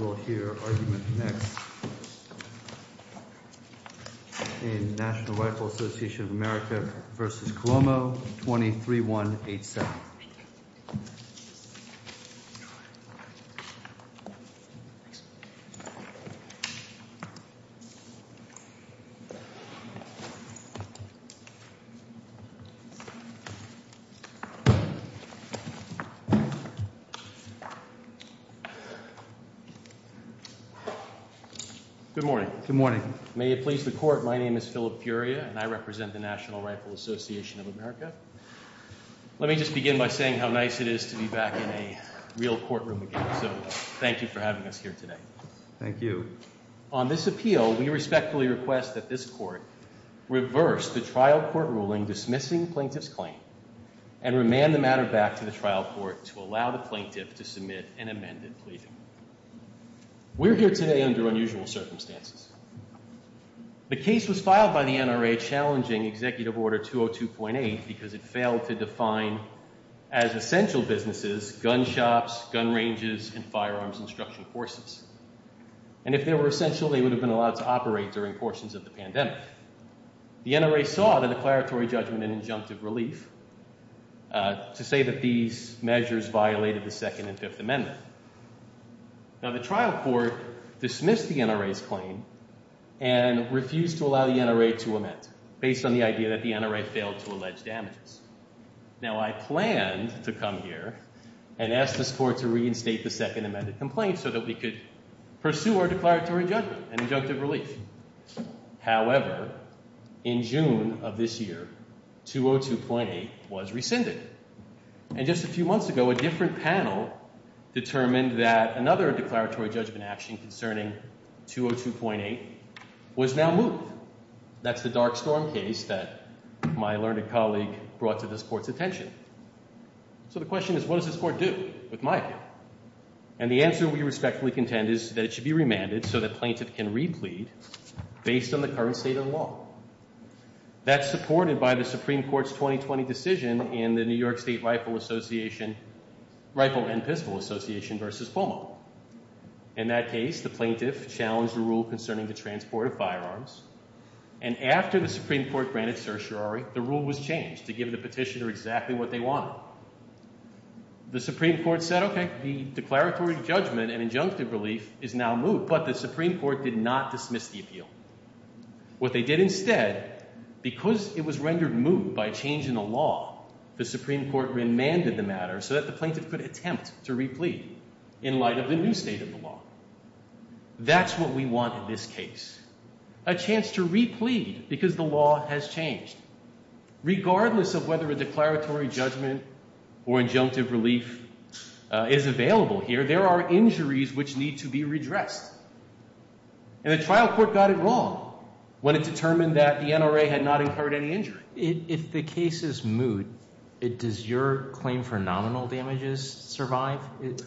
23-1-8-7. Good morning. Good morning. May it please the court, my name is Philip Furia and I represent the National Rifle Association of America. Let me just begin by saying how nice it is to be back in a real courtroom again. So thank you for having us here today. Thank you. On this appeal, we respectfully request that this court reverse the trial court ruling dismissing plaintiff's claim and remand the matter back to the trial court to allow the plaintiff to submit an amended plea. We're here today under unusual circumstances. The case was filed by the NRA challenging Executive Order 202.8 because it failed to define as essential businesses, gun shops, gun ranges, and firearms instruction courses. And if they were essential, they would have been allowed to operate during portions of the pandemic. The NRA saw the declaratory judgment and injunctive relief to say that these measures violated the Second and Fifth Amendment. Now the trial court dismissed the NRA's claim and refused to allow the NRA to amend based on the idea that the NRA failed to allege damages. Now I planned to come here and ask this court to reinstate the Second Amendment complaint so that we could pursue our declaratory judgment and injunctive relief. However, in June of this year, 202.8 was rescinded. And just a few months ago, a different panel determined that another declaratory judgment action concerning 202.8 was now moved. That's the Dark Storm case that my learned colleague brought to this court's attention. So the question is, what does this court do, with my opinion? And the answer we respectfully contend is that it should be remanded so that plaintiff can replead based on the current state of the law. That's supported by the Supreme Court's 2020 decision in the New York State Rifle and Pistol Association versus FOMO. In that case, the plaintiff challenged the rule concerning the transport of firearms. And after the Supreme Court granted certiorari, the rule was changed to give the petitioner exactly what they wanted. The Supreme Court said, okay, the declaratory judgment and injunctive relief is now moved. But the Supreme Court did not dismiss the appeal. What they did instead, because it was rendered moot by a change in the law, the Supreme Court remanded the matter so that the plaintiff could attempt to replead in light of the new state of the law. That's what we want in this case. A chance to replead because the law has changed. Regardless of whether a declaratory judgment or injunctive relief is available here, there are injuries which need to be redressed. And the trial court got it wrong when it determined that the NRA had not incurred any injury. If the case is moot, does your claim for nominal damages survive?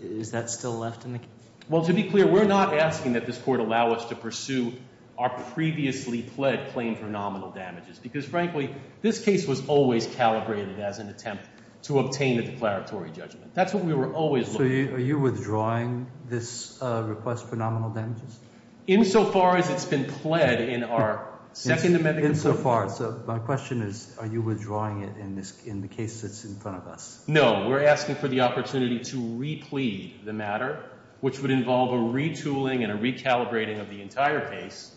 Is that still left in the case? Well, to be clear, we're not asking that this court allow us to pursue our previously pled claim for nominal damages. Because, frankly, this case was always calibrated as an attempt to obtain a declaratory judgment. That's what we were always looking for. So are you withdrawing this request for nominal damages? Insofar as it's been pled in our second amendment. Insofar. So my question is, are you withdrawing it in the case that's in front of us? No. We're asking for the opportunity to replead the matter, which would involve a retooling and a recalibrating of the entire case.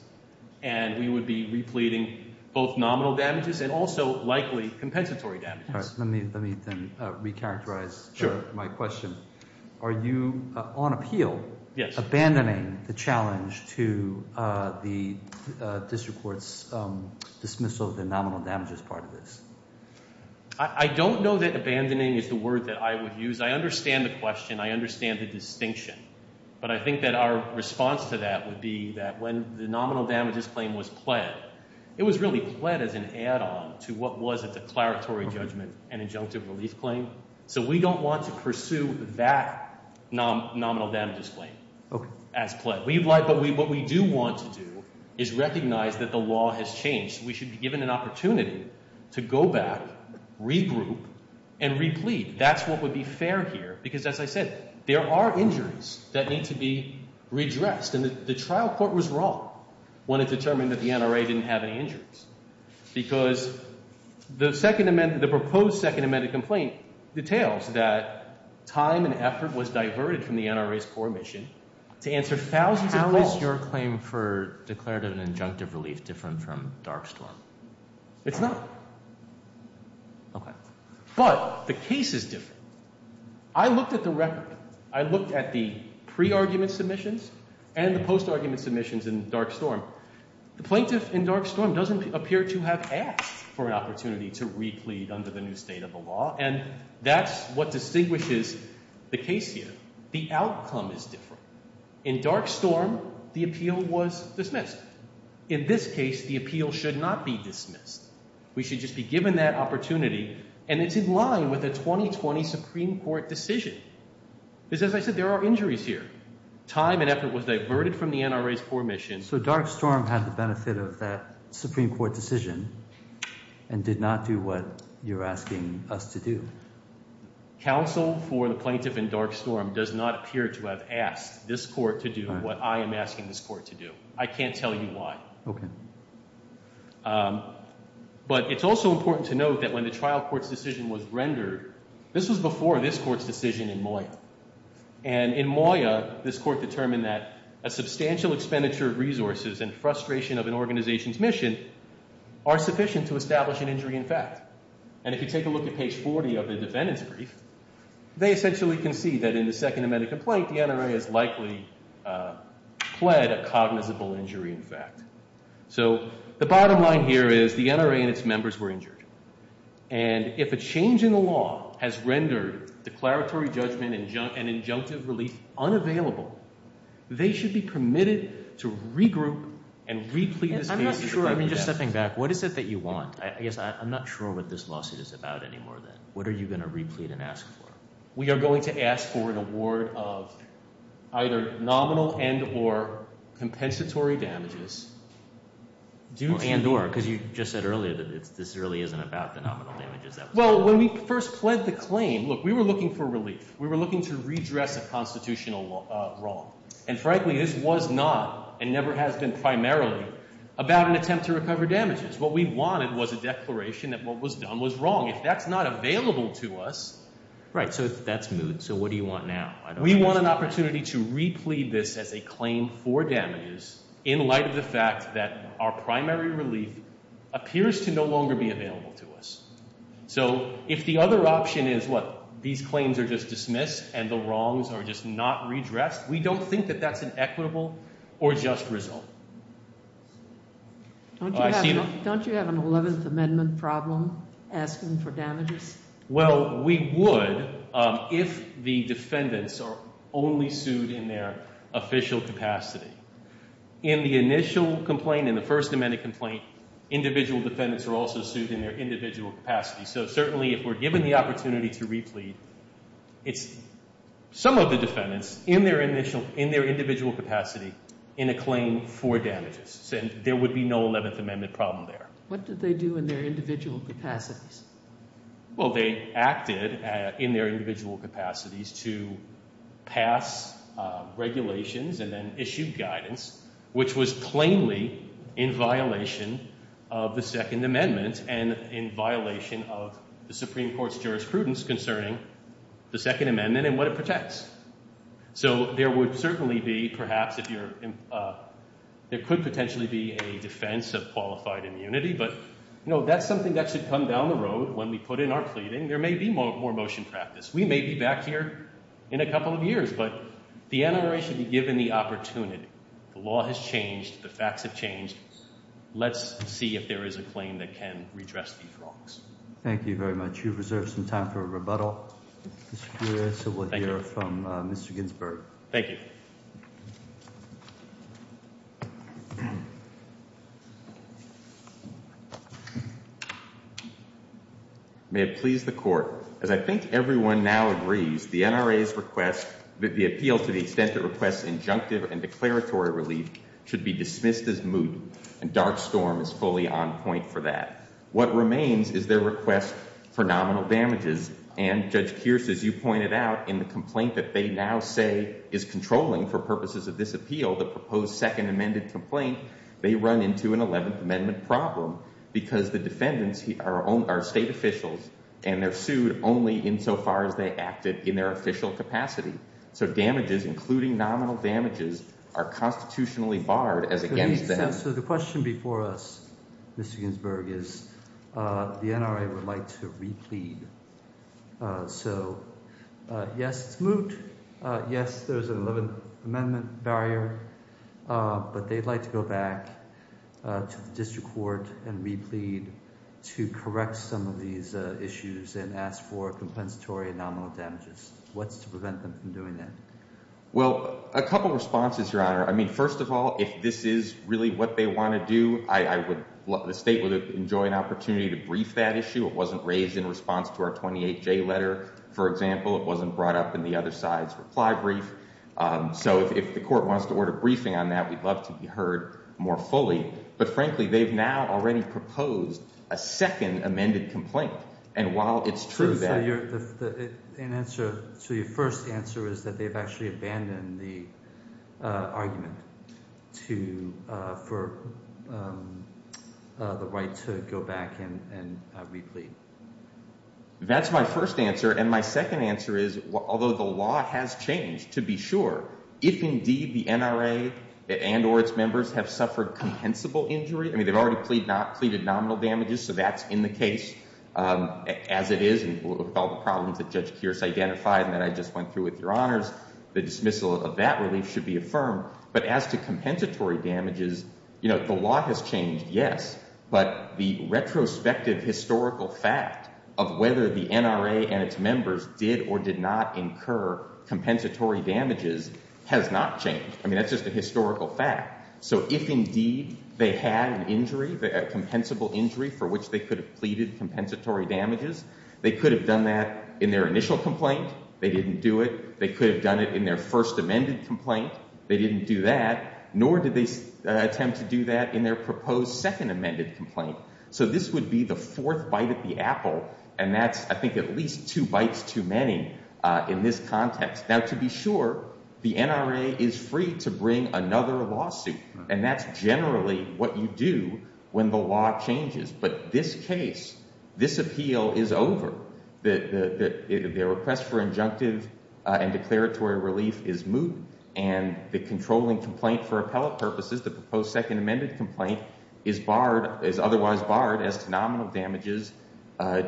And we would be repleading both nominal damages and also likely compensatory damages. Let me then recharacterize my question. Are you on appeal? Yes. Abandoning the challenge to the district court's dismissal of the nominal damages part of this? I don't know that abandoning is the word that I would use. I understand the question. I understand the distinction. But I think that our response to that would be that when the nominal damages claim was pled, it was really pled as an add-on to what was a declaratory judgment and injunctive relief claim. So we don't want to pursue that nominal damages claim as pled. But what we do want to do is recognize that the law has changed. We should be given an opportunity to go back, regroup, and replead. That's what would be fair here. Because as I said, there are injuries that need to be redressed. And the trial court was wrong when it determined that the NRA didn't have any injuries. Because the proposed second amended complaint details that time and effort was diverted from the NRA's core mission to answer thousands of calls. So is your claim for declarative and injunctive relief different from Dark Storm? It's not. Okay. But the case is different. I looked at the record. I looked at the pre-argument submissions and the post-argument submissions in Dark Storm. The plaintiff in Dark Storm doesn't appear to have asked for an opportunity to replead under the new state of the law. And that's what distinguishes the case here. The outcome is different. In Dark Storm, the appeal was dismissed. In this case, the appeal should not be dismissed. We should just be given that opportunity, and it's in line with a 2020 Supreme Court decision. Because as I said, there are injuries here. Time and effort was diverted from the NRA's core mission. So Dark Storm had the benefit of that Supreme Court decision and did not do what you're asking us to do. Counsel for the plaintiff in Dark Storm does not appear to have asked this court to do what I am asking this court to do. I can't tell you why. Okay. But it's also important to note that when the trial court's decision was rendered, this was before this court's decision in Moya. And in Moya, this court determined that a substantial expenditure of resources and frustration of an organization's mission are sufficient to establish an injury in fact. And if you take a look at page 40 of the defendant's brief, they essentially concede that in the Second Amendment complaint, the NRA has likely pled a cognizable injury in fact. So the bottom line here is the NRA and its members were injured. And if a change in the law has rendered declaratory judgment and injunctive relief unavailable, they should be permitted to regroup and replete this case. I'm not sure. I'm just stepping back. What is it that you want? I guess I'm not sure what this lawsuit is about anymore then. What are you going to replete and ask for? We are going to ask for an award of either nominal and or compensatory damages. And or, because you just said earlier that this really isn't about the nominal damages. Well, when we first pled the claim, look, we were looking for relief. We were looking to redress a constitutional wrong. And frankly, this was not and never has been primarily about an attempt to recover damages. What we wanted was a declaration that what was done was wrong. If that's not available to us. Right. So that's moved. So what do you want now? We want an opportunity to replete this as a claim for damages in light of the fact that our primary relief appears to no longer be available to us. So if the other option is, what, these claims are just dismissed and the wrongs are just not redressed, we don't think that that's an equitable or just result. Don't you have an 11th Amendment problem asking for damages? Well, we would if the defendants are only sued in their official capacity. In the initial complaint, in the First Amendment complaint, individual defendants are also sued in their individual capacity. So certainly if we're given the opportunity to replete, it's some of the defendants in their individual capacity in a claim for damages. So there would be no 11th Amendment problem there. What did they do in their individual capacities? Well, they acted in their individual capacities to pass regulations and then issue guidance, which was plainly in violation of the Second Amendment and in violation of the Supreme Court's jurisprudence concerning the Second Amendment and what it protects. So there would certainly be, perhaps, there could potentially be a defense of qualified immunity, but that's something that should come down the road when we put in our pleading. There may be more motion practice. We may be back here in a couple of years, but the NRA should be given the opportunity. The law has changed. The facts have changed. Let's see if there is a claim that can redress these wrongs. Thank you very much. You've reserved some time for a rebuttal, Mr. Pugliese, so we'll hear from Mr. Ginsburg. Thank you. May it please the Court. As I think everyone now agrees, the NRA's request, the appeal to the extent it requests injunctive and declaratory relief should be dismissed as moot, and Dark Storm is fully on point for that. What remains is their request for nominal damages, and Judge Kearse, as you pointed out, in the complaint that they now say is controlling for purposes of this appeal, the proposed Second Amendment complaint, they run into an Eleventh Amendment problem because the defendants are state officials, and they're sued only insofar as they acted in their official capacity. So damages, including nominal damages, are constitutionally barred as against them. So the question before us, Mr. Ginsburg, is the NRA would like to replead. So, yes, it's moot. Yes, there's an Eleventh Amendment barrier, but they'd like to go back to the district court and replead to correct some of these issues and ask for compensatory and nominal damages. What's to prevent them from doing that? Well, a couple of responses, Your Honor. I mean, first of all, if this is really what they want to do, the state would enjoy an opportunity to brief that issue. It wasn't raised in response to our 28J letter, for example. It wasn't brought up in the other side's reply brief. So if the court wants to order a briefing on that, we'd love to be heard more fully. But frankly, they've now already proposed a second amended complaint. And while it's true that— So your first answer is that they've actually abandoned the argument for the right to go back and replead. That's my first answer. And my second answer is, although the law has changed, to be sure, if indeed the NRA and or its members have suffered compensable injury— I mean, they've already pleaded nominal damages, so that's in the case as it is, with all the problems that Judge Kearse identified and that I just went through with Your Honors. The dismissal of that relief should be affirmed. But as to compensatory damages, you know, the law has changed, yes. But the retrospective historical fact of whether the NRA and its members did or did not incur compensatory damages has not changed. I mean, that's just a historical fact. So if indeed they had an injury, a compensable injury for which they could have pleaded compensatory damages, they could have done that in their initial complaint. They didn't do it. They could have done it in their first amended complaint. They didn't do that. Nor did they attempt to do that in their proposed second amended complaint. So this would be the fourth bite at the apple, and that's, I think, at least two bites too many in this context. Now, to be sure, the NRA is free to bring another lawsuit, and that's generally what you do when the law changes. But this case, this appeal is over. The request for injunctive and declaratory relief is moved, and the controlling complaint for appellate purposes, the proposed second amended complaint, is otherwise barred as to nominal damages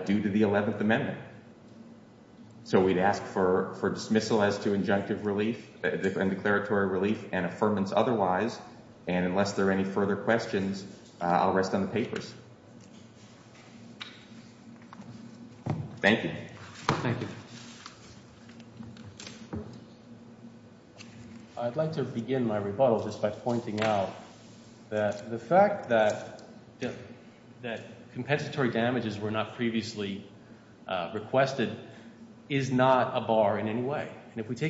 due to the 11th Amendment. So we'd ask for dismissal as to injunctive relief and declaratory relief and affirmance otherwise. And unless there are any further questions, I'll rest on the papers. Thank you. Thank you. I'd like to begin my rebuttal just by pointing out that the fact that compensatory damages were not previously requested is not a bar in any way. What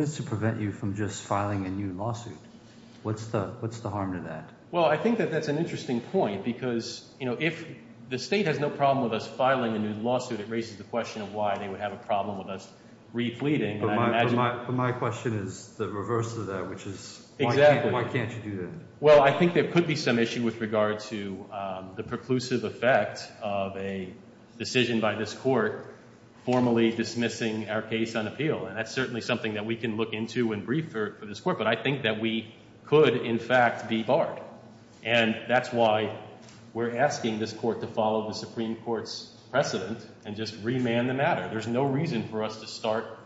is to prevent you from just filing a new lawsuit? What's the harm to that? Well, I think that that's an interesting point because if the state has no problem with us filing a new lawsuit, it raises the question of why they would have a problem with us refleeting. But my question is the reverse of that, which is why can't you do that? Well, I think there could be some issue with regard to the preclusive effect of a decision by this court formally dismissing our case on appeal. And that's certainly something that we can look into and brief for this court. But I think that we could, in fact, be barred. And that's why we're asking this court to follow the Supreme Court's precedent and just remand the matter. There's no reason for us to start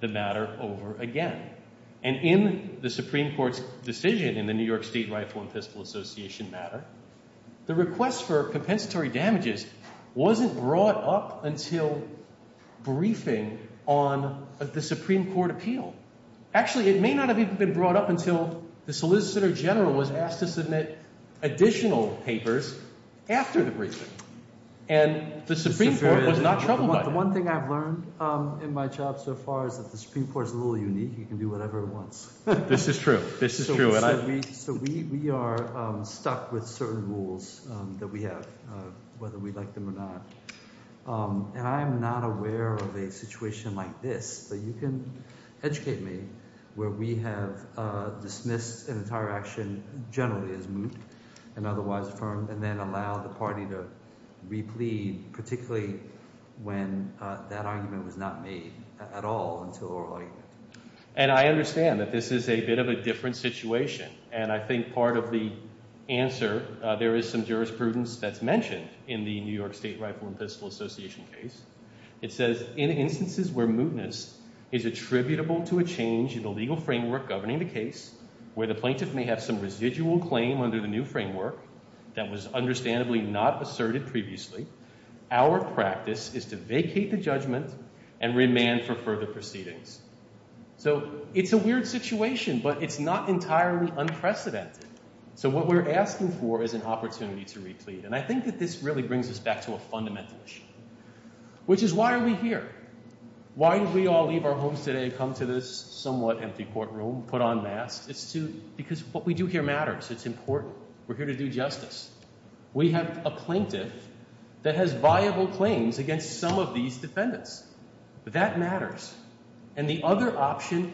the matter over again. And in the Supreme Court's decision in the New York State Rifle and Pistol Association matter, the request for compensatory damages wasn't brought up until briefing on the Supreme Court appeal. Actually, it may not have even been brought up until the solicitor general was asked to submit additional papers after the briefing. And the Supreme Court was not troubled by that. And one thing I've learned in my job so far is that the Supreme Court is a little unique. You can do whatever it wants. This is true. This is true. So we are stuck with certain rules that we have, whether we like them or not. And I am not aware of a situation like this that you can educate me where we have dismissed an entire action generally as moot and otherwise affirmed and then allow the party to replead, particularly when that argument was not made at all until oral argument. And I understand that this is a bit of a different situation. And I think part of the answer, there is some jurisprudence that's mentioned in the New York State Rifle and Pistol Association case. It says, in instances where mootness is attributable to a change in the legal framework governing the case, where the plaintiff may have some residual claim under the new framework that was understandably not asserted previously, our practice is to vacate the judgment and remand for further proceedings. So it's a weird situation, but it's not entirely unprecedented. So what we're asking for is an opportunity to replead. And I think that this really brings us back to a fundamental issue, which is why are we here? Why did we all leave our homes today and come to this somewhat empty courtroom, put on masks? It's because what we do here matters. It's important. We're here to do justice. We have a plaintiff that has viable claims against some of these defendants. That matters. And the other option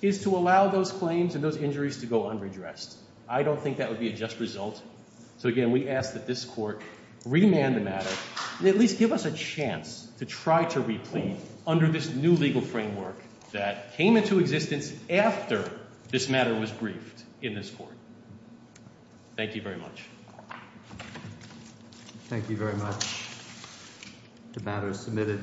is to allow those claims and those injuries to go unredressed. I don't think that would be a just result. So, again, we ask that this court remand the matter and at least give us a chance to try to replead under this new legal framework that came into existence after this matter was briefed in this court. Thank you very much. Thank you very much. The matter is submitted.